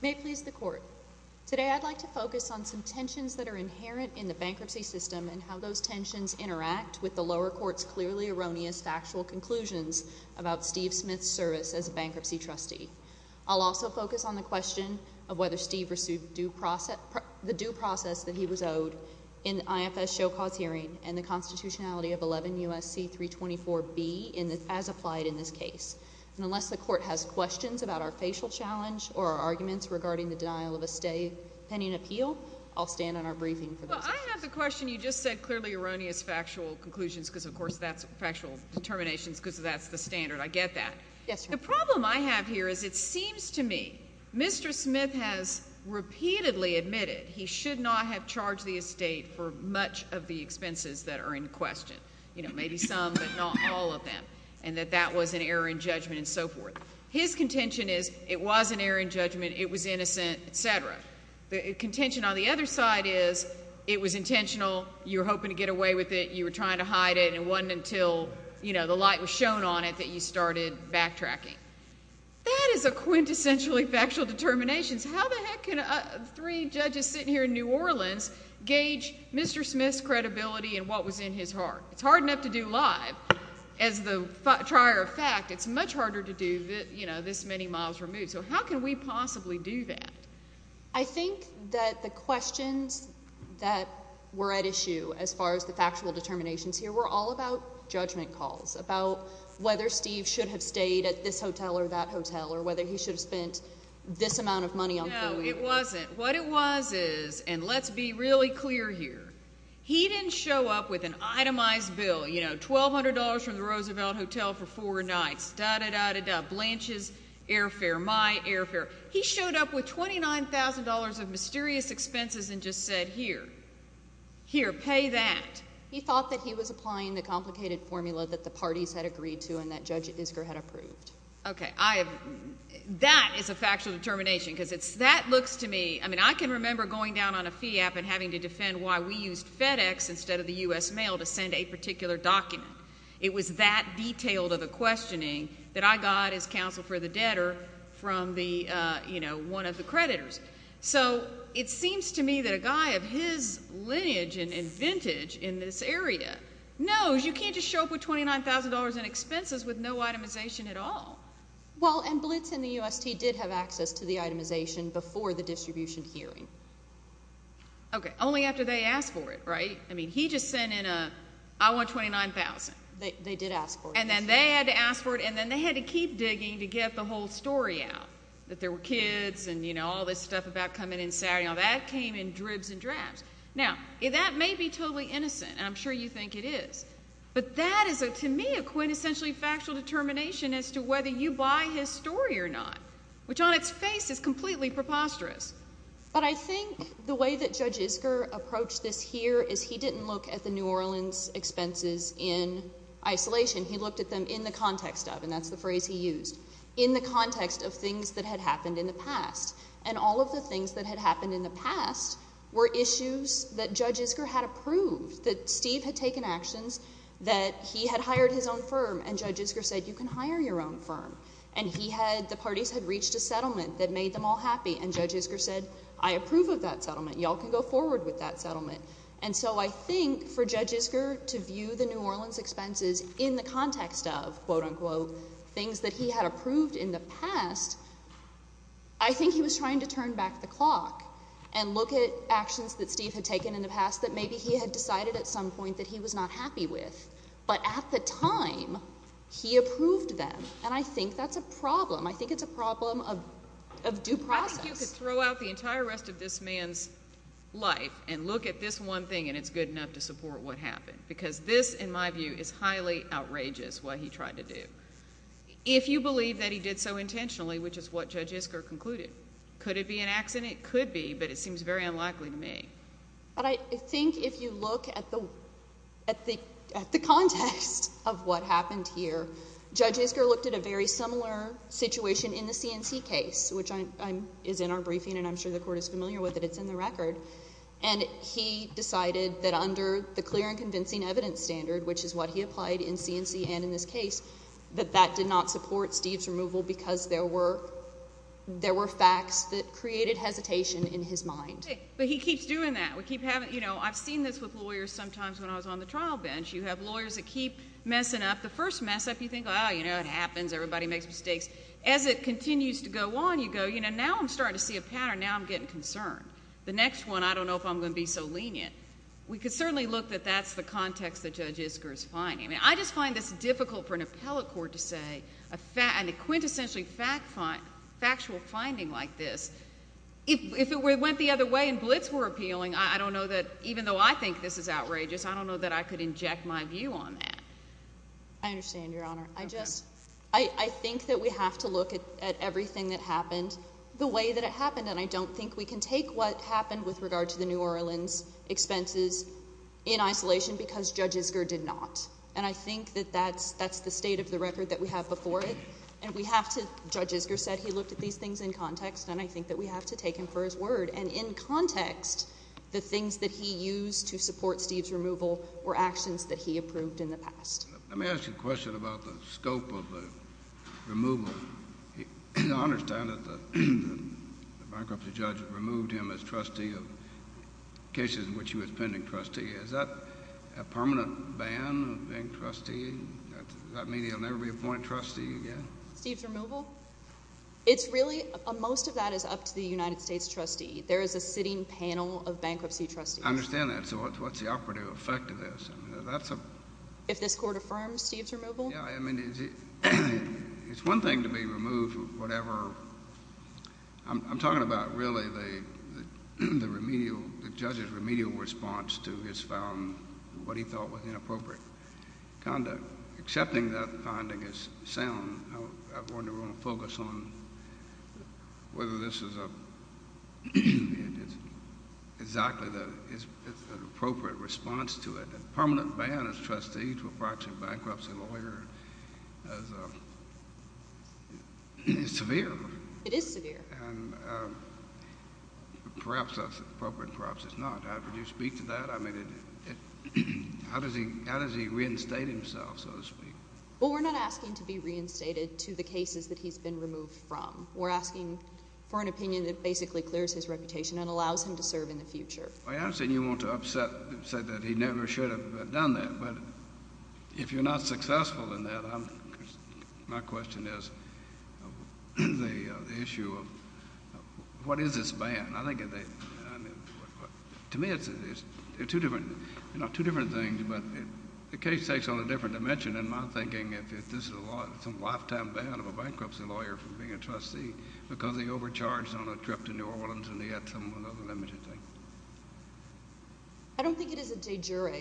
May it please the Court, today I'd like to focus on some tensions that are inherent in the bankruptcy system and how those tensions interact with the lower Court's clearly erroneous factual conclusions about Steve Smith's service as a bankruptcy trustee. I'll also focus on the question of whether Steve pursued the due process that he was owed in the IFS Show Cause hearing and the constitutionality of 11 U.S.C. 324B as applied in this case. And unless the Court has questions about our facial challenge or our arguments regarding the denial of estate pending appeal, I'll stand on our briefing for those questions. Well, I have the question. You just said clearly erroneous factual conclusions because, of course, that's factual determinations because that's the standard. I get that. Yes, Your Honor. The problem I have here is it seems to me Mr. Smith has repeatedly admitted he should not have charged the estate for much of the expenses that are in question, you know, maybe some but not all of them, and that that was an error in judgment and so forth. His contention is it was an error in judgment, it was innocent, et cetera. The contention on the other side is it was intentional, you were hoping to get away with it, you were trying to hide it, and it wasn't until, you know, the light was shown on it that you started backtracking. That is a quintessentially factual determination. How the heck can three judges sitting here in New Orleans gauge Mr. Smith's credibility and what was in his heart? It's hard enough to do live. As the trier of fact, it's much harder to do, you know, this many miles removed. So how can we possibly do that? I think that the questions that were at issue as far as the factual determinations here were all about judgment calls, about whether Steve should have stayed at this hotel or that hotel or whether he should have spent this amount of money on food. No, it wasn't. What it was is, and let's be really clear here, he didn't show up with an itemized bill, you know, $1,200 from the Roosevelt Hotel for four nights, da-da-da-da-da, Blanche's airfare, my airfare. He showed up with $29,000 of mysterious expenses and just said, here, here, pay that. He thought that he was applying the complicated formula that the parties had agreed to and that Judge Isker had approved. Okay, I have—that is a factual determination, because that looks to me—I mean, I can remember going down on a fee app and having to defend why we used FedEx instead of the U.S. Mail to send a particular document. It was that detailed of a questioning that I got as counsel for the debtor from the, you know, one of the creditors. So it seems to me that a guy of his lineage and vintage in this area knows you can't just show up with $29,000 in expenses with no itemization at all. Well, and Blitz and the UST did have access to the itemization before the distribution hearing. Okay, only after they asked for it, right? I mean, he just sent in a, I want $29,000. They did ask for it. And then they had to ask for it, and then they had to keep digging to get the whole story out, that there were kids and, you know, all this stuff about coming in Saturday and all that came in dribs and drabs. Now, that may be totally innocent, and I'm sure you think it is. But that is, to me, a quintessentially factual determination as to whether you buy his story or not, which on its face is completely preposterous. But I think the way that Judge Isker approached this here is he didn't look at the New Orleans expenses in isolation. He looked at them in the context of, and that's the phrase he used, in the context of things that had happened in the past. And all of the things that had happened in the past were issues that Judge Isker had approved, that Steve had taken actions, that he had hired his own firm. And Judge Isker said, you can hire your own firm. And he had, the parties had reached a settlement that made them all happy. And Judge Isker said, I approve of that settlement. Y'all can go forward with that settlement. And so I think for Judge Isker to view the New Orleans expenses in the context of, quote unquote, things that he had approved in the past, I think he was trying to turn back the He had decided at some point that he was not happy with, but at the time, he approved them. And I think that's a problem. I think it's a problem of due process. I think you could throw out the entire rest of this man's life and look at this one thing and it's good enough to support what happened, because this, in my view, is highly outrageous what he tried to do. If you believe that he did so intentionally, which is what Judge Isker concluded, could it be an accident? It could be, but it seems very unlikely to me. But I think if you look at the context of what happened here, Judge Isker looked at a very similar situation in the C&C case, which is in our briefing and I'm sure the court is familiar with it. It's in the record. And he decided that under the clear and convincing evidence standard, which is what he applied in C&C and in this case, that that did not support Steve's removal because there were facts that created hesitation in his mind. But he keeps doing that. We keep having, you know, I've seen this with lawyers sometimes when I was on the trial bench. You have lawyers that keep messing up. The first mess up, you think, oh, you know, it happens, everybody makes mistakes. As it continues to go on, you go, you know, now I'm starting to see a pattern, now I'm getting concerned. The next one, I don't know if I'm going to be so lenient. We could certainly look that that's the context that Judge Isker is finding. I just find this difficult for an appellate court to say, and a quintessentially factual finding like this, if it went the other way and blitz were appealing, I don't know that even though I think this is outrageous, I don't know that I could inject my view on that. I understand, Your Honor. I just, I think that we have to look at everything that happened the way that it happened, and I don't think we can take what happened with regard to the New Orleans expenses in isolation because Judge Isker did not. And I think that that's the state of the record that we have before it, and we have to, Judge Isker did these things in context, and I think that we have to take him for his word. And in context, the things that he used to support Steve's removal were actions that he approved in the past. Let me ask you a question about the scope of the removal. I understand that the bankruptcy judge removed him as trustee of cases in which he was pending trustee. Is that a permanent ban of being trustee? Does that mean he'll never be appointed trustee again? Steve's removal? It's really, most of that is up to the United States trustee. There is a sitting panel of bankruptcy trustees. I understand that. So what's the operative effect of this? If this Court affirms Steve's removal? Yeah, I mean, it's one thing to be removed, whatever. I'm talking about, really, the judge's remedial response to his found, what he felt was inappropriate conduct. But accepting that finding is sound, I wonder if we're going to focus on whether this is a—it's exactly the—it's an appropriate response to it. A permanent ban as trustee to approach a bankruptcy lawyer as a—it's severe. It is severe. And perhaps that's appropriate, perhaps it's not. I mean, do you speak to that? I mean, how does he reinstate himself? So to speak. Well, we're not asking to be reinstated to the cases that he's been removed from. We're asking for an opinion that basically clears his reputation and allows him to serve in the future. I understand you want to upset—say that he never should have done that, but if you're not successful in that, I'm—my question is the issue of what is this ban? I think it's—to me, it's two different things, but the case takes on a different dimension in my thinking if this is a lifetime ban of a bankruptcy lawyer from being a trustee because he overcharged on a trip to New Orleans and he had some other limited thing. I don't think it is a de jure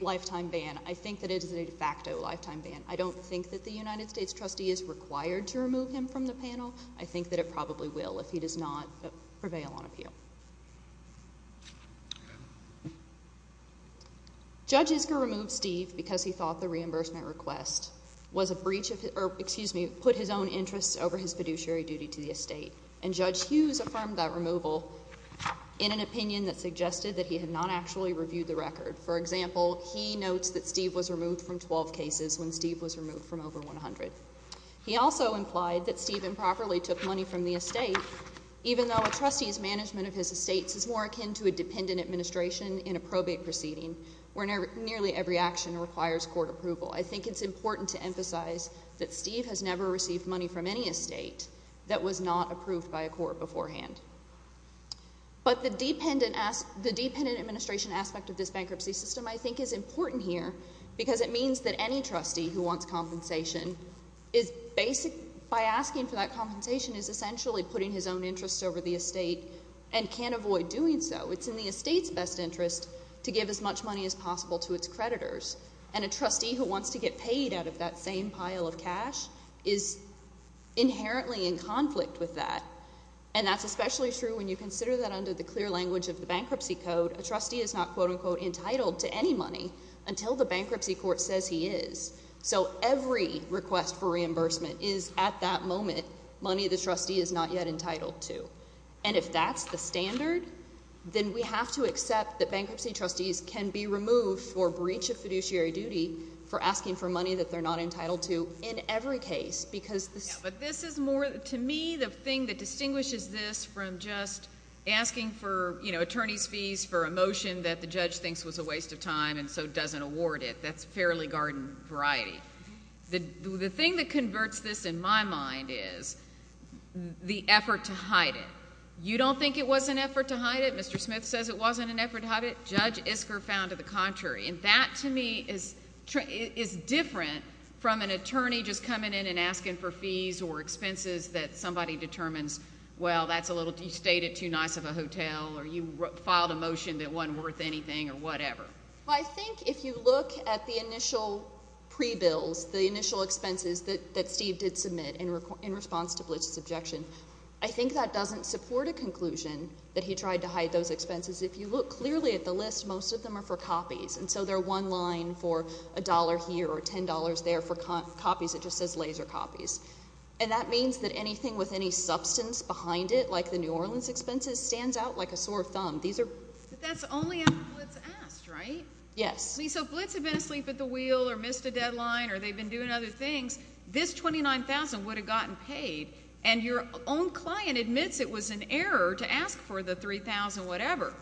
lifetime ban. I think that it is a de facto lifetime ban. I don't think that the United States trustee is required to remove him from the panel. I think that it probably will if he does not prevail on appeal. Judge Isker removed Steve because he thought the reimbursement request was a breach of his—or, excuse me, put his own interests over his fiduciary duty to the estate, and Judge Hughes affirmed that removal in an opinion that suggested that he had not actually reviewed the record. For example, he notes that Steve was removed from 12 cases when Steve was removed from over 100. He also implied that Steve improperly took money from the estate even though a trustee's management of his estates is more akin to a dependent administration in a probate proceeding where nearly every action requires court approval. I think it's important to emphasize that Steve has never received money from any estate that was not approved by a court beforehand. But the dependent administration aspect of this bankruptcy system, I think, is important here because it means that any trustee who wants compensation is basic—by asking for that compensation is essentially putting his own interests over the estate and can't avoid doing so. It's in the estate's best interest to give as much money as possible to its creditors. And a trustee who wants to get paid out of that same pile of cash is inherently in conflict with that. And that's especially true when you consider that under the clear language of the bankruptcy code, a trustee is not, quote-unquote, entitled to any money until the bankruptcy court says he is. So every request for reimbursement is at that moment money the trustee is not yet entitled to. And if that's the standard, then we have to accept that bankruptcy trustees can be removed for breach of fiduciary duty for asking for money that they're not entitled to in every case because— Yeah, but this is more—to me, the thing that distinguishes this from just asking for, you know, attorney's fees for a motion that the judge thinks was a waste of time and so doesn't award it, that's fairly garden variety. The thing that converts this, in my mind, is the effort to hide it. You don't think it was an effort to hide it. Mr. Smith says it wasn't an effort to hide it. Judge Isker found it the contrary, and that to me is different from an attorney just coming in and asking for fees or expenses that somebody determines, well, that's a little—you stayed it too nice of a hotel, or you filed a motion that wasn't worth anything or whatever. I think if you look at the initial pre-bills, the initial expenses that Steve did submit in response to Blitch's objection, I think that doesn't support a conclusion that he tried to hide those expenses. If you look clearly at the list, most of them are for copies, and so they're one line for a dollar here or $10 there for copies, it just says laser copies. And that means that anything with any substance behind it, like the New Orleans expenses, stands out like a sore thumb. These are— But that's only after Blitz asked, right? Yes. I mean, so if Blitz had been asleep at the wheel or missed a deadline or they'd been doing other things, this $29,000 would have gotten paid, and your own client admits it was an error to ask for the $3,000 whatever.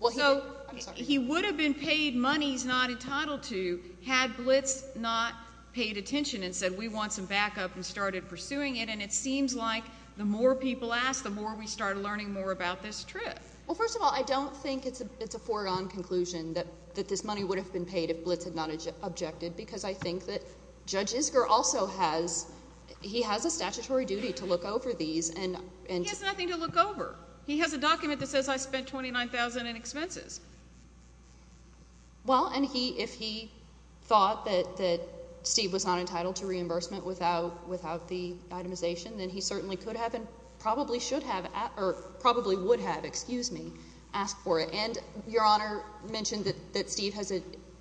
Well, he— I'm sorry. He would have been paid money he's not entitled to had Blitz not paid attention and said, we want some backup, and started pursuing it. And it seems like the more people ask, the more we start learning more about this trip. Well, first of all, I don't think it's a foregone conclusion that this money would have been paid if Blitz had not objected, because I think that Judge Isger also has—he has a statutory duty to look over these and— He has nothing to look over. He has a document that says I spent $29,000 in expenses. Well, and he—if he thought that Steve was not entitled to reimbursement without the itemization, then he certainly could have and probably should have—or probably would have, excuse me, asked for it. And Your Honor mentioned that Steve has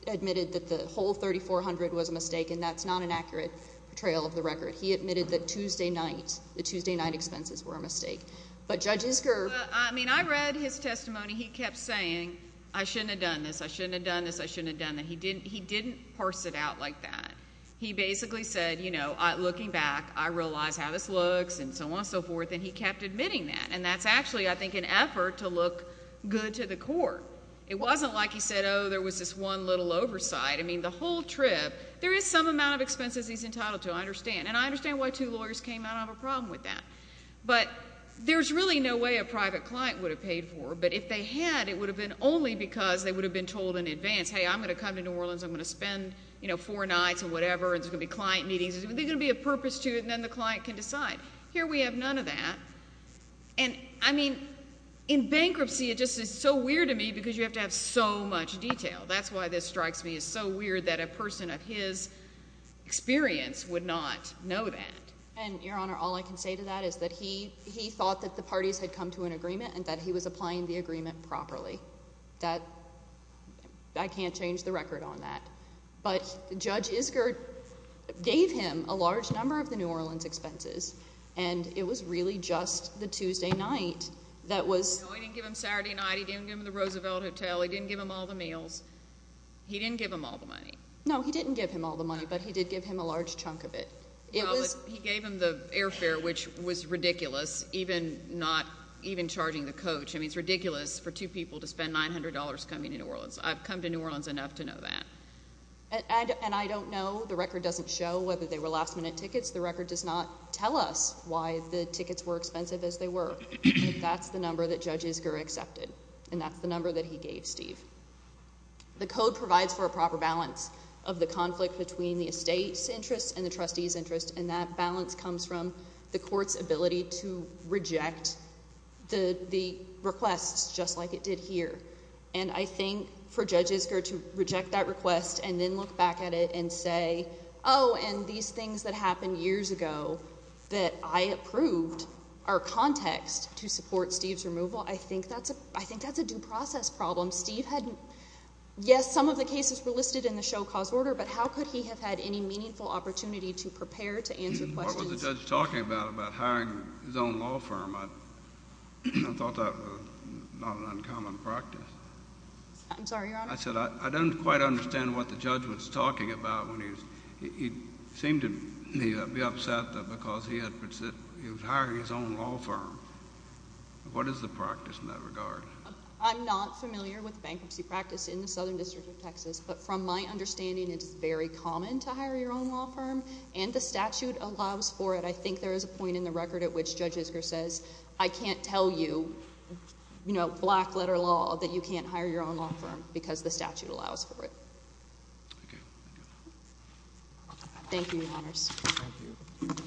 admitted that the whole $3,400 was a mistake, and that's not an accurate portrayal of the record. He admitted that Tuesday night, the Tuesday night expenses were a mistake. But Judge Isger— I mean, I read his testimony. He kept saying, I shouldn't have done this, I shouldn't have done this, I shouldn't have done that. He didn't parse it out like that. He basically said, you know, looking back, I realize how this looks, and so on and so forth, and he kept admitting that. And that's actually, I think, an effort to look good to the court. It wasn't like he said, oh, there was this one little oversight. I mean, the whole trip, there is some amount of expenses he's entitled to, I understand. And I understand why two lawyers came out of a problem with that. But there's really no way a private client would have paid for it. But if they had, it would have been only because they would have been told in advance, hey, I'm going to come to New Orleans, I'm going to spend, you know, four nights or whatever, and there's going to be client meetings. There's going to be a purpose to it, and then the client can decide. Here we have none of that. And I mean, in bankruptcy, it just is so weird to me, because you have to have so much detail. That's why this strikes me as so weird that a person of his experience would not know that. And, Your Honor, all I can say to that is that he thought that the parties had come to an agreement and that he was applying the agreement properly. That, I can't change the record on that. But Judge Isker gave him a large number of the New Orleans expenses, and it was really just the Tuesday night that was No, he didn't give him Saturday night, he didn't give him the Roosevelt Hotel, he didn't give him all the meals. He didn't give him all the money. No, he didn't give him all the money, but he did give him a large chunk of it. He gave him the airfare, which was ridiculous, even charging the coach. I mean, it's ridiculous for two people to spend $900 coming to New Orleans. I've come to New Orleans enough to know that. And I don't know, the record doesn't show whether they were last-minute tickets. The record does not tell us why the tickets were expensive as they were. That's the number that Judge Isker accepted, and that's the number that he gave Steve. The code provides for a proper balance of the conflict between the estate's interests and the trustee's interests, and that balance comes from the court's ability to reject the requests just like it did here. And I think for Judge Isker to reject that request and then look back at it and say, oh, and these things that happened years ago that I approved are context to support Steve's removal, I think that's a due process problem. Steve had, yes, some of the cases were listed in the show cause order, but how could he have had any meaningful opportunity to prepare to answer questions? What was the judge talking about, about hiring his own law firm? I thought that was not an uncommon practice. I'm sorry, Your Honor? I said, I don't quite understand what the judge was talking about when he seemed to be upset because he was hiring his own law firm. What is the practice in that regard? I'm not familiar with bankruptcy practice in the Southern District of Texas, but from my understanding, it's very common to hire your own law firm, and the statute allows for it. I think there is a point in the record at which Judge Isker says, I can't tell you, you know, black letter law, that you can't hire your own law firm because the statute allows for it. Thank you. Thank you, Your Honors. Thank you.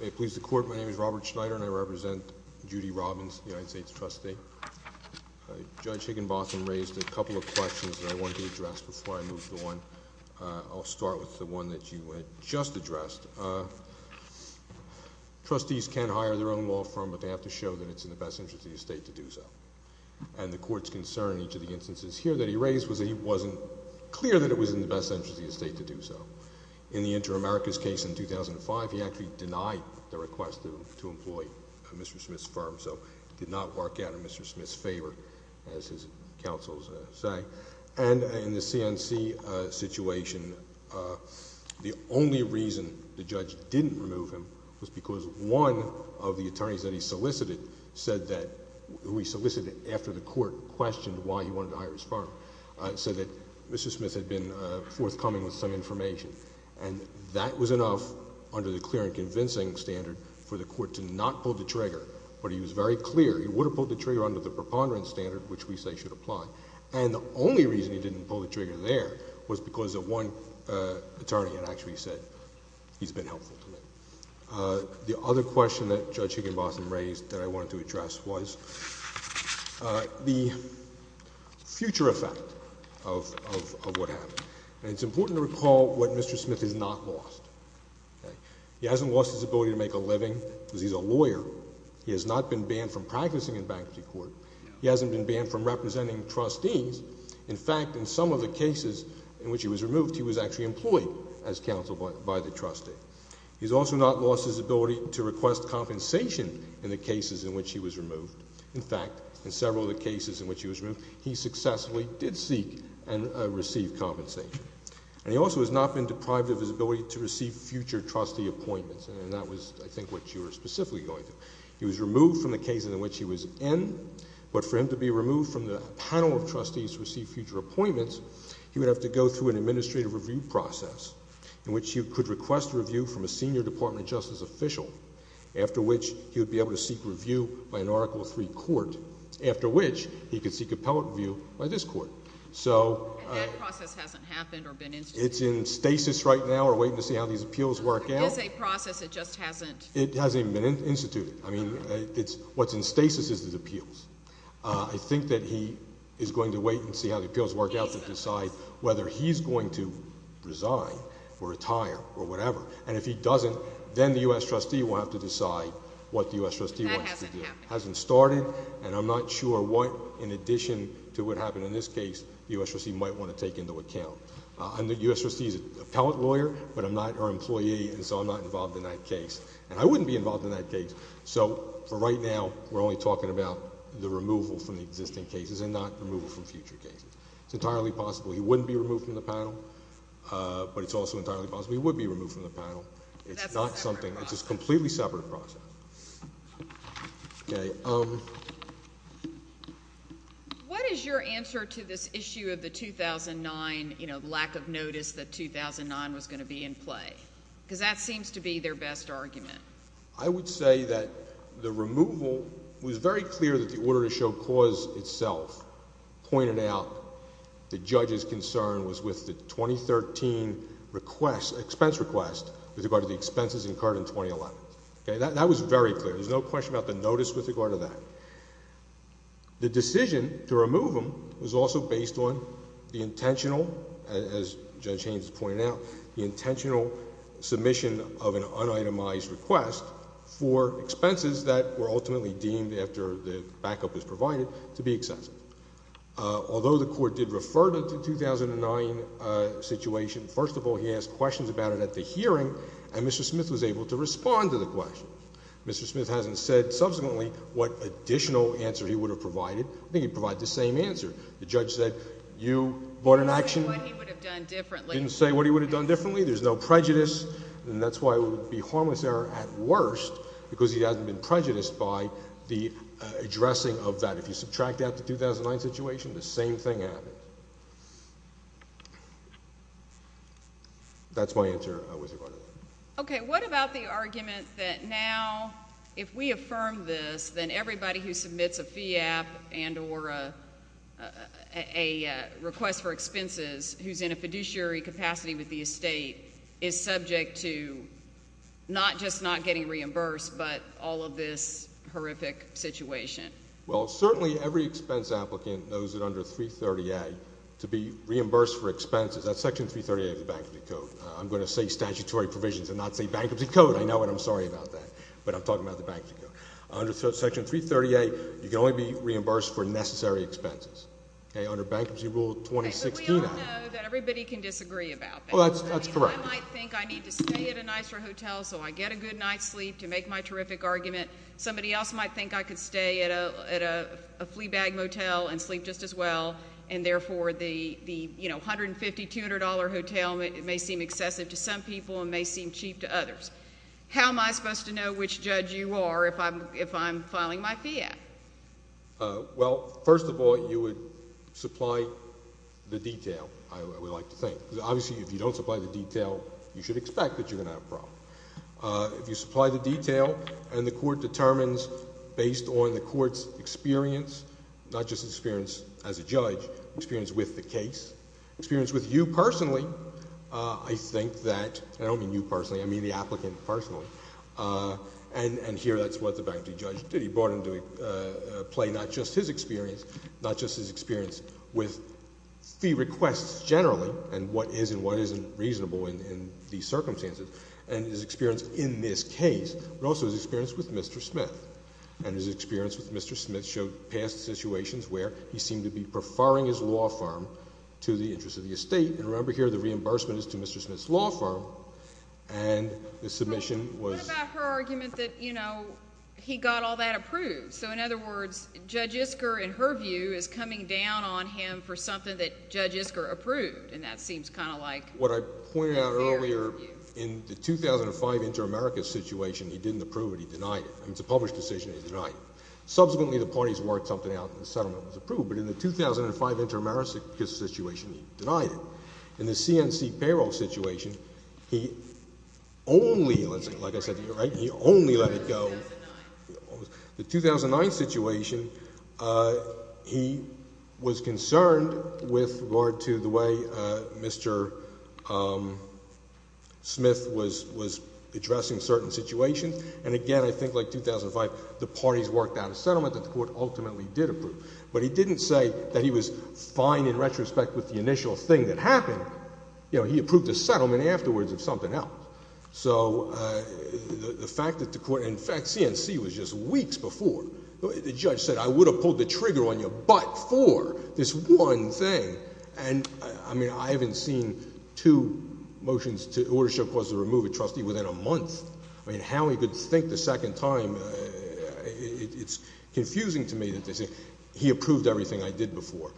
May it please the Court, my name is Robert Schneider, and I represent Judy Robbins, United States Trustee. Judge Higginbotham raised a couple of questions that I want to address before I move on. I'll start with the one that you just addressed. Trustees can't hire their own law firm, but they have to show that it's in the best interest of the estate to do so. And the Court's concern in each of the instances here that he raised was that it wasn't clear that it was in the best interest of the estate to do so. In the Inter-Americas case in 2005, he actually denied the request to employ Mr. Smith's firm, so it did not work out in Mr. Smith's favor, as his counsels say. And in the CNC situation, the only reason the judge didn't remove him was because one of the attorneys that he solicited said that... who he solicited after the Court questioned why he wanted to hire his firm, said that Mr. Smith had been forthcoming with some information. And that was enough under the clear and convincing standard for the Court to not pull the trigger, but he was very clear he would have pulled the trigger under the preponderance standard, which we say should apply. And the only reason he didn't pull the trigger there was because of one attorney that actually said he's been helpful to him. The other question that Judge Higginbotham raised that I wanted to address was the future effect of what happened. And it's important to recall what Mr. Smith has not lost. He hasn't lost his ability to make a living because he's a lawyer. He has not been banned from practicing in bankruptcy court. He hasn't been banned from representing trustees. In fact, in some of the cases in which he was removed, he was actually employed as counsel by the trustee. He's also not lost his ability to request compensation in the cases in which he was removed. In fact, in several of the cases in which he was removed, he successfully did seek and receive compensation. And he also has not been deprived of his ability to receive future trustee appointments. And that was, I think, what you were specifically going through. He was removed from the case in which he was in, but for him to be removed from the panel of trustees to receive future appointments, he would have to go through an administrative review process in which he could request a review from a senior department justice official, after which he would be able to seek review by an Article III court, after which he could seek appellate review by this court. So... And that process hasn't happened or been instituted? It's in stasis right now. We're waiting to see how these appeals work out. It is a process. It just hasn't... It hasn't even been instituted. I mean, it's... what's in stasis is the appeals. I think that he is going to wait and see how the appeals work out to decide whether he's going to resign or retire or whatever. And if he doesn't, then the U.S. trustee will have to decide what the U.S. trustee wants to do. That hasn't happened. Hasn't started. And I'm not sure what, in addition to what happened in this case, the U.S. trustee might want to take into account. I'm the U.S. trustee's appellate lawyer, but I'm not her employee, and so I'm not involved in that case. And I wouldn't be involved in that case. So for right now, we're only talking about the removal from the existing cases and not removal from future cases. It's entirely possible he wouldn't be removed from the panel, but it's also entirely possible he would be removed from the panel. It's not something... That's a separate process. It's a completely separate process. Okay. What is your answer to this issue of the 2009, you know, lack of notice that 2009 was going to be in play? Because that seems to be their best argument. I would say that the removal... it was very clear that the order to show cause itself pointed out the judge's concern was with the 2013 expense request with regard to the expenses incurred in 2011. Okay? That was very clear. There's no question about the notice with regard to that. The decision to remove him was also based on the intentional, as Judge Haynes pointed out, the intentional submission of an un-itemized request for expenses that were ultimately deemed, after the backup was provided, to be excessive. Although the Court did refer to the 2009 situation, first of all, he asked questions about it at the hearing, and Mr. Smith was able to respond to the question. Mr. Smith hasn't said subsequently what additional answer he would have provided. I think he'd provide the same answer. The judge said, you brought an action... He didn't say what he would have done differently. He didn't say what he would have done differently. There's no prejudice, and that's why it would be harmless error at worst, because he hasn't been prejudiced by the addressing of that. If you subtract out the 2009 situation, the same thing happened. That's my answer with regard to that. Okay. What about the argument that now, if we affirm this, then everybody who submits a FIAP and or a request for expenses, who's in a fiduciary capacity with the estate, is subject to not just not getting reimbursed, but all of this horrific situation? Well, certainly every expense applicant knows that under 330A, to be reimbursed for expenses, that's Section 330A of the Bankruptcy Code. I'm going to say statutory provisions and not say Bankruptcy Code. I know it. I'm sorry about that, but I'm talking about the Bankruptcy Code. Under Section 330A, you can only be reimbursed for necessary expenses. Okay? Under Bankruptcy Rule 2016— But we all know that everybody can disagree about that. Well, that's correct. I mean, I might think I need to stay at a nicer hotel so I get a good night's sleep to make my terrific argument. Somebody else might think I could stay at a flea bag motel and sleep just as well, and therefore, the $150, $200 hotel may seem excessive to some people and may seem cheap to others. How am I supposed to know which judge you are if I'm filing my fee at? Well, first of all, you would supply the detail, I would like to think, because obviously, if you don't supply the detail, you should expect that you're going to have a problem. If you supply the detail and the court determines based on the court's experience, not just experience as a judge, experience with the case, experience with you personally, I think that—and I don't mean you personally, I mean the applicant personally—and here that's what the Bankruptcy Judge did, he brought into play not just his experience, not just his experience with fee requests generally, and what is and what isn't reasonable in these circumstances, and his experience in this case, but also his experience with Mr. Smith. And his experience with Mr. Smith showed past situations where he seemed to be preferring his law firm to the interest of the estate, and remember here, the reimbursement is to Mr. Smith's law firm, and the submission was— But what about her argument that, you know, he got all that approved? So in other words, Judge Isker, in her view, is coming down on him for something that Judge Isker approved, and that seems kind of like— What I pointed out earlier, in the 2005 Inter-America situation, he didn't approve it, he denied it. I mean, it's a published decision, he denied it. Subsequently, the parties worked something out, and the settlement was approved, but in the 2005 Inter-America situation, he denied it. In the CNC payroll situation, he only, like I said, he only let it go. The 2009 situation, he was concerned with regard to the way Mr. Smith was addressing certain situations, and again, I think like 2005, the parties worked out a settlement that the court ultimately did approve, but he didn't say that he was fine in retrospect with the initial thing that happened. You know, he approved the settlement afterwards of something else. So the fact that the court—in fact, CNC was just weeks before. The judge said, I would have pulled the trigger on you, but for this one thing, and I mean, I haven't seen two motions to order show causes to remove a trustee within a month. I mean, how he could think the second time, it's confusing to me that they say, he approved everything I did before.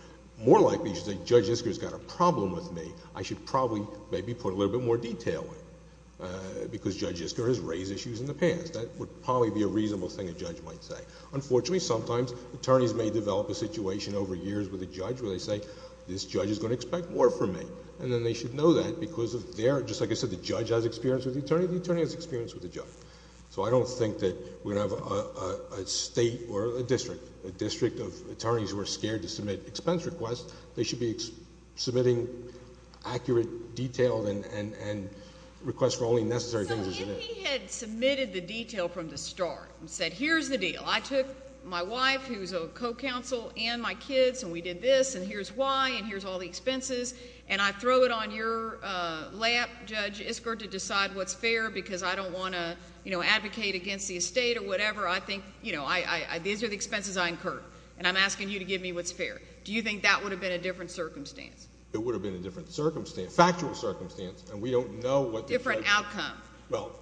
More likely, he should say, Judge Isker has got a problem with me. I should probably maybe put a little bit more detail in, because Judge Isker has raised issues in the past. That would probably be a reasonable thing a judge might say. Unfortunately, sometimes, attorneys may develop a situation over years with a judge where they say, this judge is going to expect more from me, and then they should know that because of their... just like I said, the judge has experience with the attorney, the attorney has experience with the judge. So I don't think that we're going to have a state or a district, a district of attorneys who are scared to submit expense requests. They should be submitting accurate, detailed, and requests for only necessary things... So if he had submitted the detail from the start and said, here's the deal. I took my wife, who's a co-counsel, and my kids, and we did this, and here's why, and here's all the expenses, and I throw it on your lap, Judge Isker, to decide what's fair because I don't want to advocate against the estate or whatever. I think, you know, these are the expenses I incur, and I'm asking you to give me what's fair. Do you think that would have been a different circumstance? It would have been a different circumstance, a factual circumstance, and we don't know what... Different outcome. Well,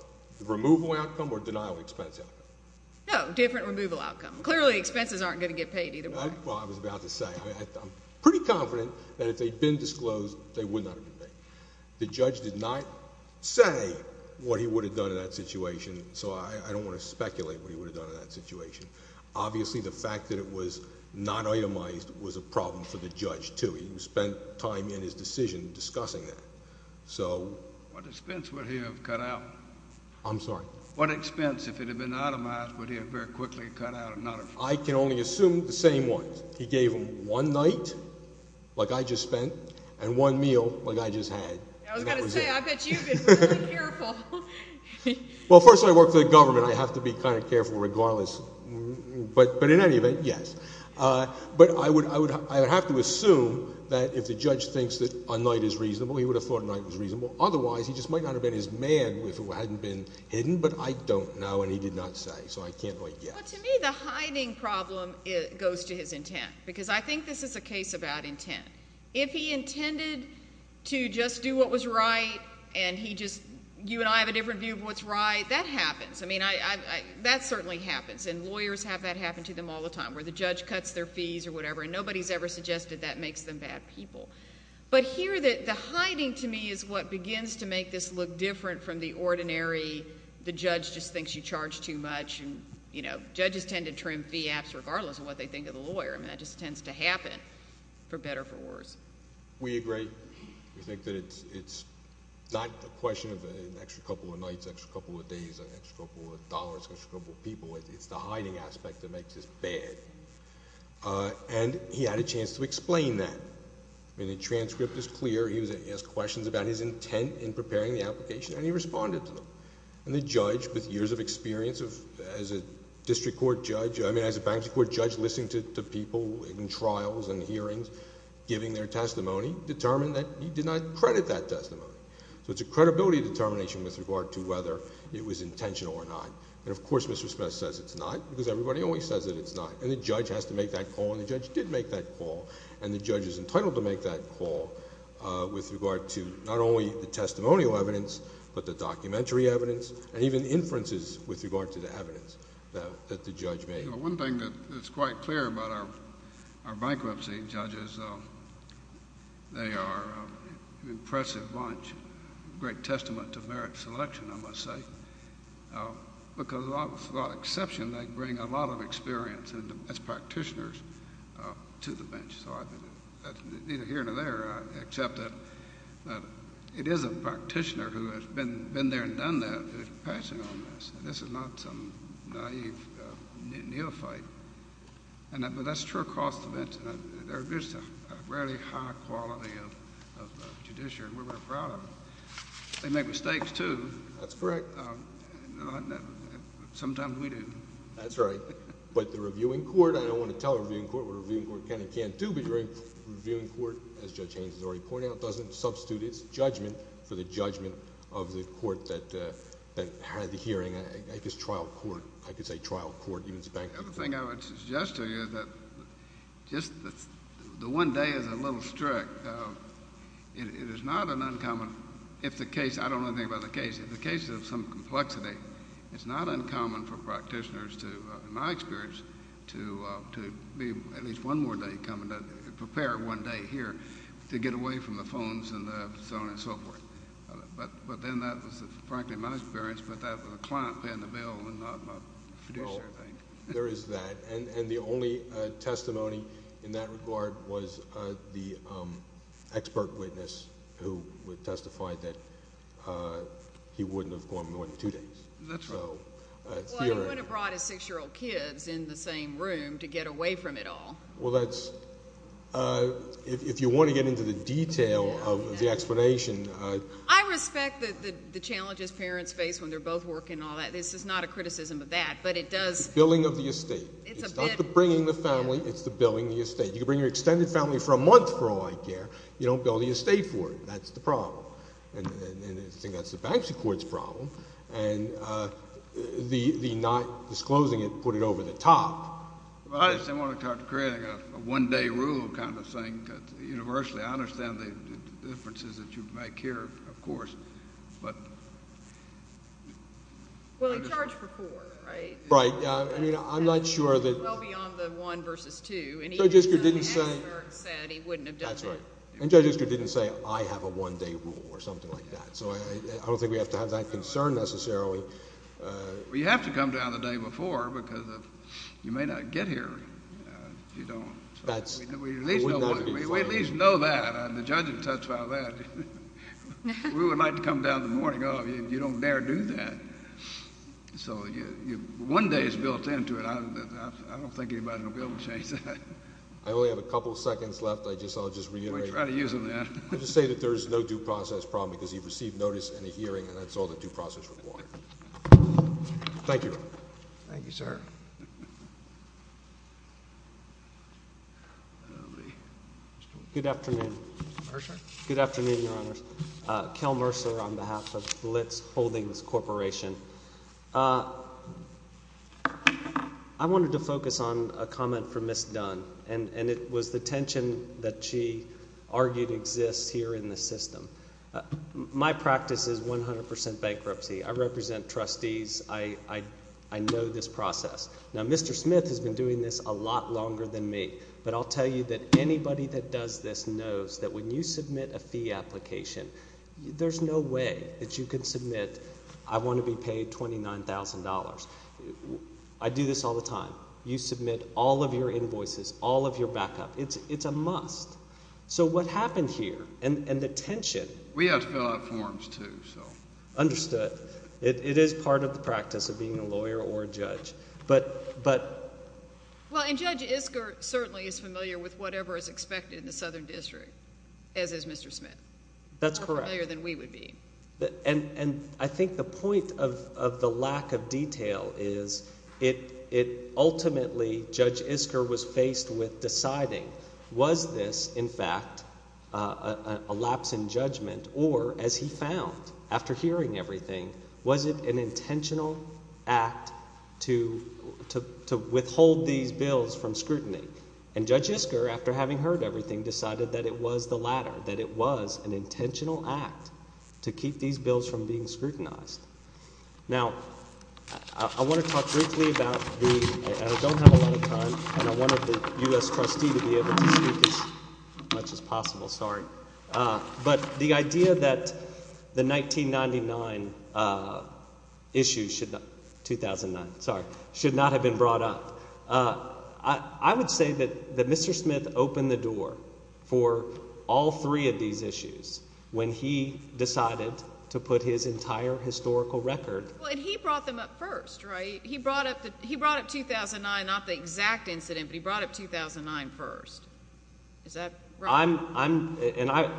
removal outcome or denial of expense outcome? No, different removal outcome. Clearly, expenses aren't going to get paid either way. Well, I was about to say, I'm pretty confident that if they'd been disclosed, they would not have been made. The judge did not say what he would have done in that situation, so I don't want to speculate what he would have done. Obviously, the fact that it was not itemized was a problem for the judge, too. He spent time in his decision discussing that, so... What expense would he have cut out? I'm sorry? What expense, if it had been itemized, would he have very quickly cut out and not... I can only assume the same ones. He gave them one night, like I just spent, and one meal, like I just had. I was going to say, I bet you've been really careful. Well, first of all, I work for the government. I have to be kind of careful regardless. But in any event, yes. But I would have to assume that if the judge thinks that a night is reasonable, he would have thought a night was reasonable. Otherwise, he just might not have been his man if it hadn't been hidden. But I don't know, and he did not say, so I can't quite guess. Well, to me, the hiding problem goes to his intent, because I think this is a case about intent. If he intended to just do what was right, and he just... you and I have a different view of what's right, that happens. I mean, that certainly happens, and lawyers have that happen to them all the time, where the judge cuts their fees or whatever, and nobody's ever suggested that makes them bad people. But here, the hiding, to me, is what begins to make this look different from the ordinary, the judge just thinks you charge too much, and, you know, judges tend to trim fee apps regardless of what they think of the lawyer. I mean, that just tends to happen, for better or for worse. We agree. We think that it's not a question of an extra couple of nights, an extra couple of days, an extra couple of dollars, an extra couple of people. It's the hiding aspect that makes this bad. And he had a chance to explain that. I mean, the transcript is clear. He asked questions about his intent in preparing the application, and he responded to them. And the judge, with years of experience as a district court judge, I mean, as a bank district court judge, listening to people in trials and hearings, giving their testimony, determined that he did not credit that testimony. So it's a credibility determination with regard to whether it was intentional or not. And, of course, Mr. Smith says it's not, because everybody always says that it's not, and the judge has to make that call, and the judge did make that call, and the judge is entitled to make that call with regard to not only the testimonial evidence, but the documentary evidence, and even inferences with regard to the evidence that the judge made. You know, one thing that's quite clear about our bankruptcy judges, they are an impressive bunch, a great testament to merit selection, I must say, because with a lot of exception, they bring a lot of experience as practitioners to the bench. So I think that's neither here nor there, except that it is a practitioner who has been there and done that, who is passionate on this, and this is not some naive neophyte. But that's true across the bench. There is a really high quality of judiciary, and we're very proud of it. They make mistakes, too. That's correct. Sometimes we do. That's right. But the reviewing court, I don't want to tell the reviewing court what a reviewing court can and can't do, but the reviewing court, as Judge Haynes has already pointed out, doesn't substitute its judgment for the judgment of the court that had the hearing. I guess trial court. I could say trial court, even spanking. The other thing I would suggest to you is that just the one day is a little strict. It is not an uncommon, if the case, I don't know anything about the case, if the case is of some complexity, it's not uncommon for practitioners to, in my experience, to be at least one more day coming to prepare one day here to get away from the phones and so on and so forth. But then that was frankly my experience, but that was a client paying the bill and not my fiduciary thing. There is that. And the only testimony in that regard was the expert witness who testified that he wouldn't have gone more than two days. That's right. Well, he wouldn't have brought his six-year-old kids in the same room to get away from it all. Well, if you want to get into the detail of the explanation. I respect the challenges parents face when they're both working and all that. This is not a criticism of that, but it does. It's billing of the estate. It's not the bringing the family. It's the billing of the estate. You can bring your extended family for a month for all I care. You don't bill the estate for it. That's the problem. And I think that's the bankruptcy court's problem. And the not disclosing it, put it over the top. Well, I just didn't want to start creating a one-day rule kind of thing universally. I understand the differences that you make here, of course, but. Well, he charged for four, right? Right. I mean, I'm not sure that. Well, beyond the one versus two. And even though the expert said he wouldn't have done that. That's right. And Judge Isker didn't say, I have a one-day rule or something like that. So I don't think we have to have that concern necessarily. Well, you have to come down the day before because you may not get here if you don't. That's. We at least know that. The judge has touched on that. We would like to come down in the morning. You don't dare do that. So one day is built into it. I don't think anybody will be able to change that. I only have a couple seconds left. I'll just reiterate. We'll try to use them then. I'll just say that there is no due process problem because he received notice in a hearing, and that's all the due process required. Thank you. Thank you, sir. Good afternoon. Good afternoon, Your Honors. Kel Mercer on behalf of Blitz Holdings Corporation. I wanted to focus on a comment from Ms. Dunn, and it was the tension that she argued exists here in the system. My practice is 100 percent bankruptcy. I represent trustees. I know this process. Now, Mr. Smith has been doing this a lot longer than me, but I'll tell you that anybody that does this knows that when you submit a fee application, there's no way that you can submit I want to be paid $29,000. I do this all the time. You submit all of your invoices, all of your backup. It's a must. So what happened here and the tension... We have to fill out forms too, so... It is part of the practice of being a lawyer or a judge. Well, and Judge Isker certainly is familiar with whatever is expected in the Southern District, as is Mr. Smith. That's correct. More familiar than we would be. And I think the point of the lack of detail is it ultimately... Judge Isker was faced with deciding was this, in fact, a lapse in judgment or, as he found after hearing everything, was it an intentional act to withhold these bills from scrutiny? And Judge Isker, after having heard everything, decided that it was the latter, that it was an intentional act to keep these bills from being scrutinized. Now, I want to talk briefly about the... I don't have a lot of time, and I wanted the U.S. trustee to be able to speak as much as possible. Sorry. But the idea that the 1999 issue should not have been brought up, I would say that Mr. Smith opened the door for all three of these issues when he decided to put his entire historical record... Well, and he brought them up first, right? He brought up 2009, not the exact incident, but he brought up 2009 first. Is that right? And I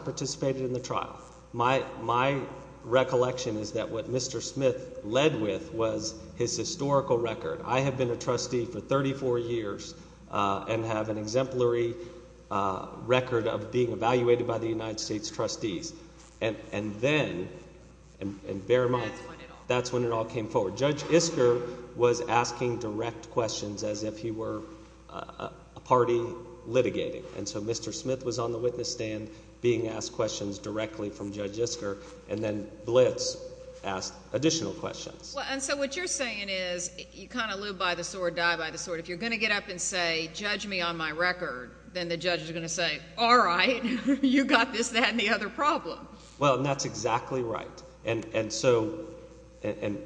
participated in the trial. My recollection is that what Mr. Smith led with was his historical record. I have been a trustee for 34 years and have an exemplary record of being evaluated by the United States trustees. And then... and bear in mind, that's when it all came forward. Judge Isker was asking direct questions as if he were a party litigating. And so Mr. Smith was on the witness stand being asked questions directly from Judge Isker. And then Blitz asked additional questions. And so what you're saying is you kind of live by the sword, die by the sword. If you're going to get up and say, judge me on my record, then the judge is going to say, all right, you got this, that, and the other problem. Well, and that's exactly right. And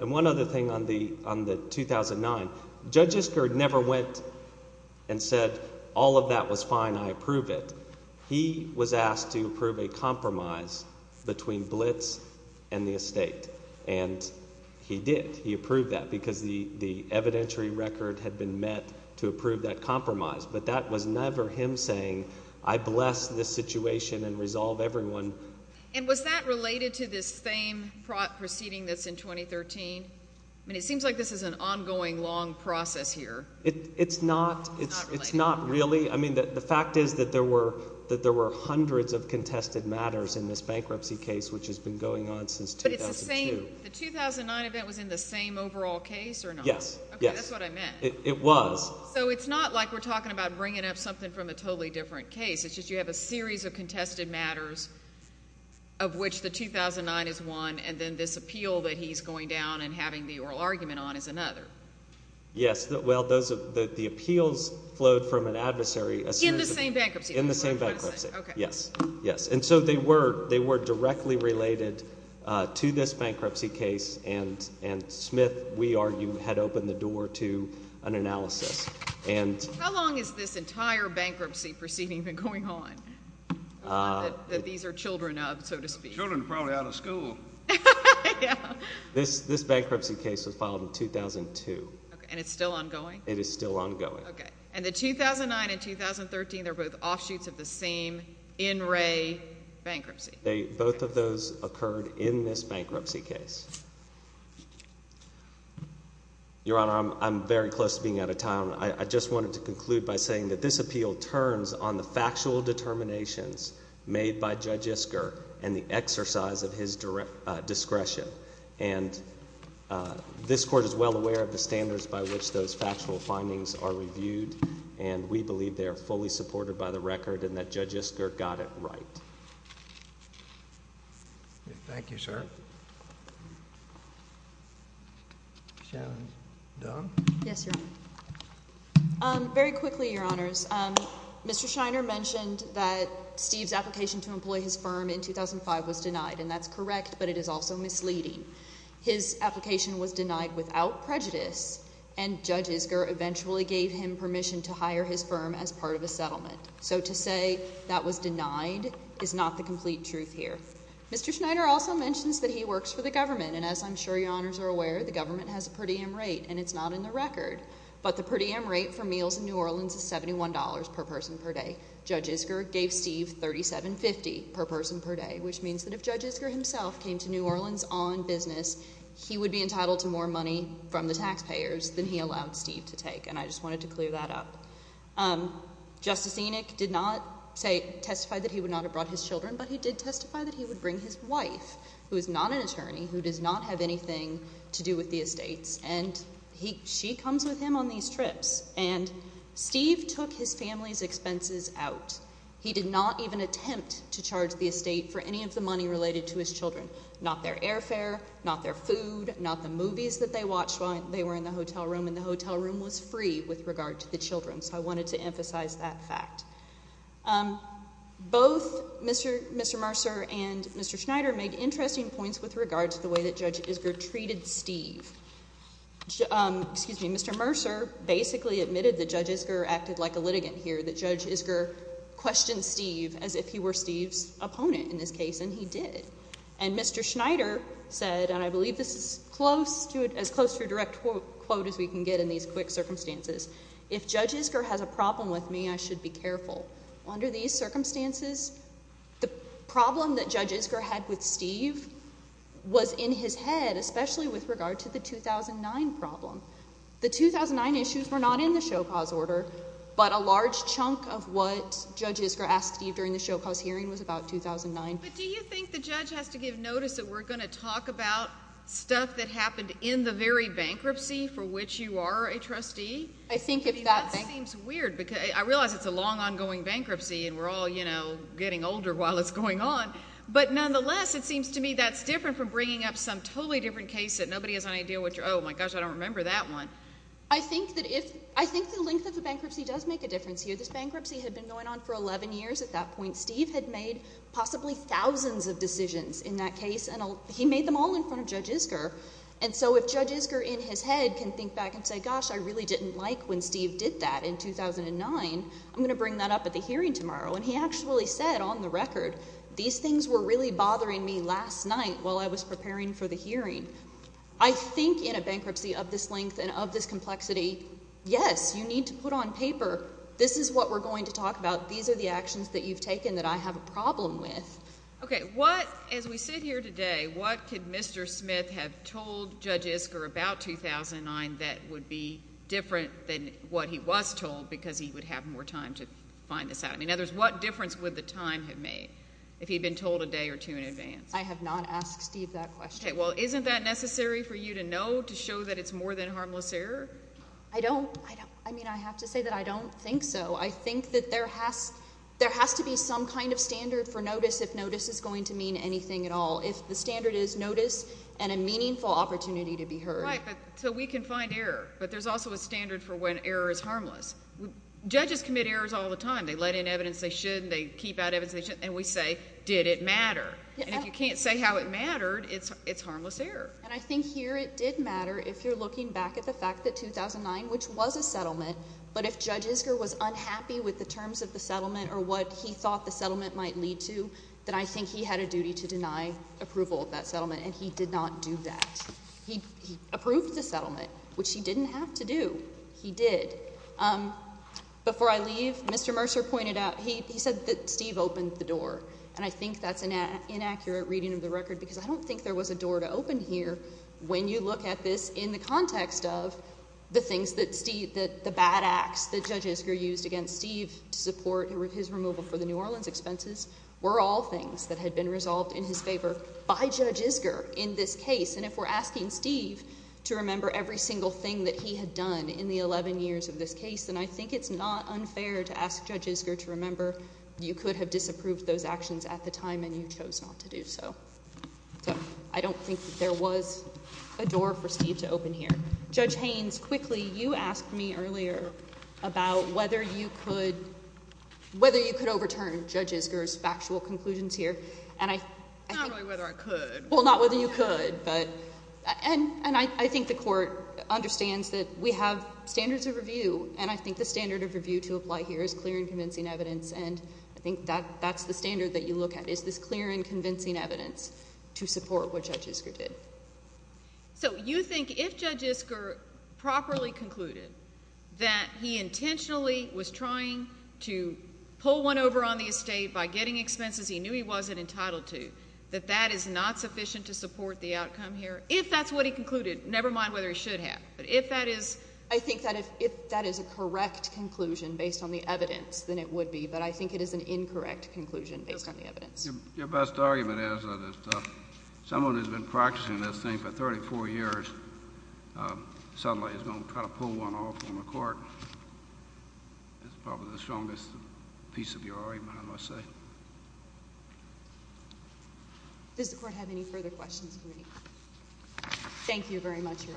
one other thing on the 2009, Judge Isker never went and said all of that was fine, I approve it. He was asked to approve a compromise between Blitz and the estate, and he did. He approved that because the evidentiary record had been met to approve that compromise. But that was never him saying, I bless this situation and resolve everyone. And was that related to this same proceeding that's in 2013? I mean it seems like this is an ongoing, long process here. It's not. It's not related. It's not really. I mean the fact is that there were hundreds of contested matters in this bankruptcy case, which has been going on since 2002. But it's the same. The 2009 event was in the same overall case or not? Yes. Okay, that's what I meant. It was. So it's not like we're talking about bringing up something from a totally different case. It's just you have a series of contested matters of which the 2009 is one, and then this appeal that he's going down and having the oral argument on is another. Yes. Well, the appeals flowed from an adversary. In the same bankruptcy. In the same bankruptcy. Okay. Yes. Yes. And so they were directly related to this bankruptcy case, and Smith, we argue, had opened the door to an analysis. How long has this entire bankruptcy proceeding been going on that these are children of, so to speak? Children are probably out of school. Yeah. This bankruptcy case was filed in 2002. And it's still ongoing? It is still ongoing. Okay. And the 2009 and 2013, they're both offshoots of the same in-ray bankruptcy. Both of those occurred in this bankruptcy case. Your Honor, I'm very close to being out of time. I just wanted to conclude by saying that this appeal turns on the factual determinations made by Judge Isker and the exercise of his discretion. And this court is well aware of the standards by which those factual findings are reviewed, and we believe they are fully supported by the record and that Judge Isker got it right. Thank you, sir. Shannon Dunn? Yes, Your Honor. Very quickly, Your Honors. Mr. Schneider mentioned that Steve's application to employ his firm in 2005 was denied, and that's correct, but it is also misleading. His application was denied without prejudice, and Judge Isker eventually gave him permission to hire his firm as part of a settlement. So to say that was denied is not the complete truth here. Mr. Schneider also mentions that he works for the government, and as I'm sure Your Honors are aware, the government has a per diem rate, and it's not in the record. But the per diem rate for meals in New Orleans is $71 per person per day. Judge Isker gave Steve $37.50 per person per day, which means that if Judge Isker himself came to New Orleans on business, he would be entitled to more money from the taxpayers than he allowed Steve to take, and I just wanted to clear that up. Justice Enoch did not testify that he would not have brought his children, but he did testify that he would bring his wife, who is not an attorney, who does not have anything to do with the estates, and she comes with him on these trips. And Steve took his family's expenses out. He did not even attempt to charge the estate for any of the money related to his children, not their airfare, not their food, not the movies that they watched while they were in the hotel room, and the hotel room was free with regard to the children. So I wanted to emphasize that fact. Both Mr. Mercer and Mr. Schneider made interesting points with regard to the way that Judge Isker treated Steve. Excuse me. Mr. Mercer basically admitted that Judge Isker acted like a litigant here, that Judge Isker questioned Steve as if he were Steve's opponent in this case, and he did. And Mr. Schneider said, and I believe this is as close to a direct quote as we can get in these quick circumstances, if Judge Isker has a problem with me, I should be careful. Under these circumstances, the problem that Judge Isker had with Steve was in his head, especially with regard to the 2009 problem. The 2009 issues were not in the show-cause order, but a large chunk of what Judge Isker asked Steve during the show-cause hearing was about 2009. But do you think the judge has to give notice that we're going to talk about stuff that happened in the very bankruptcy for which you are a trustee? I think it's that. That seems weird because I realize it's a long, ongoing bankruptcy, and we're all, you know, getting older while it's going on. But nonetheless, it seems to me that's different from bringing up some totally different case that nobody has any idea what you're – oh, my gosh, I don't remember that one. I think that if – I think the length of the bankruptcy does make a difference here. This bankruptcy had been going on for 11 years at that point. Steve had made possibly thousands of decisions in that case, and he made them all in front of Judge Isker. And so if Judge Isker in his head can think back and say, gosh, I really didn't like when Steve did that in 2009, I'm going to bring that up at the hearing tomorrow. And he actually said on the record, these things were really bothering me last night while I was preparing for the hearing. I think in a bankruptcy of this length and of this complexity, yes, you need to put on paper this is what we're going to talk about. These are the actions that you've taken that I have a problem with. Okay. What – as we sit here today, what could Mr. Smith have told Judge Isker about 2009 that would be different than what he was told because he would have more time to find this out? In other words, what difference would the time have made if he had been told a day or two in advance? I have not asked Steve that question. Okay. Well, isn't that necessary for you to know to show that it's more than harmless error? I don't – I mean, I have to say that I don't think so. I think that there has to be some kind of standard for notice if notice is going to mean anything at all. If the standard is notice and a meaningful opportunity to be heard. Right. So we can find error, but there's also a standard for when error is harmless. Judges commit errors all the time. They let in evidence they should and they keep out evidence they shouldn't, and we say, did it matter? And if you can't say how it mattered, it's harmless error. And I think here it did matter if you're looking back at the fact that 2009, which was a settlement, but if Judge Isker was unhappy with the terms of the settlement or what he thought the settlement might lead to, then I think he had a duty to deny approval of that settlement, and he did not do that. He approved the settlement, which he didn't have to do. He did. Before I leave, Mr. Mercer pointed out, he said that Steve opened the door, and I think that's an inaccurate reading of the record because I don't think there was a door to open here when you look at this in the context of the bad acts that Judge Isker used against Steve to support his removal for the New Orleans expenses were all things that had been resolved in his favor by Judge Isker in this case. And if we're asking Steve to remember every single thing that he had done in the 11 years of this case, then I think it's not unfair to ask Judge Isker to remember you could have disapproved those actions at the time, and you chose not to do so. So I don't think that there was a door for Steve to open here. Judge Haynes, quickly, you asked me earlier about whether you could overturn Judge Isker's factual conclusions here. Not really whether I could. Well, not whether you could. And I think the Court understands that we have standards of review, and I think the standard of review to apply here is clear and convincing evidence, and I think that's the standard that you look at is this clear and convincing evidence to support what Judge Isker did. So you think if Judge Isker properly concluded that he intentionally was trying to pull one over on the estate by getting expenses he knew he wasn't entitled to, that that is not sufficient to support the outcome here? If that's what he concluded, never mind whether he should have. But if that is... I think that if that is a correct conclusion based on the evidence, then it would be, but I think it is an incorrect conclusion based on the evidence. Your best argument is that someone who has been practicing this thing for 34 years suddenly is going to try to pull one off on the Court. That's probably the strongest piece of your argument, I must say. Does the Court have any further questions? Thank you very much, Your Honors.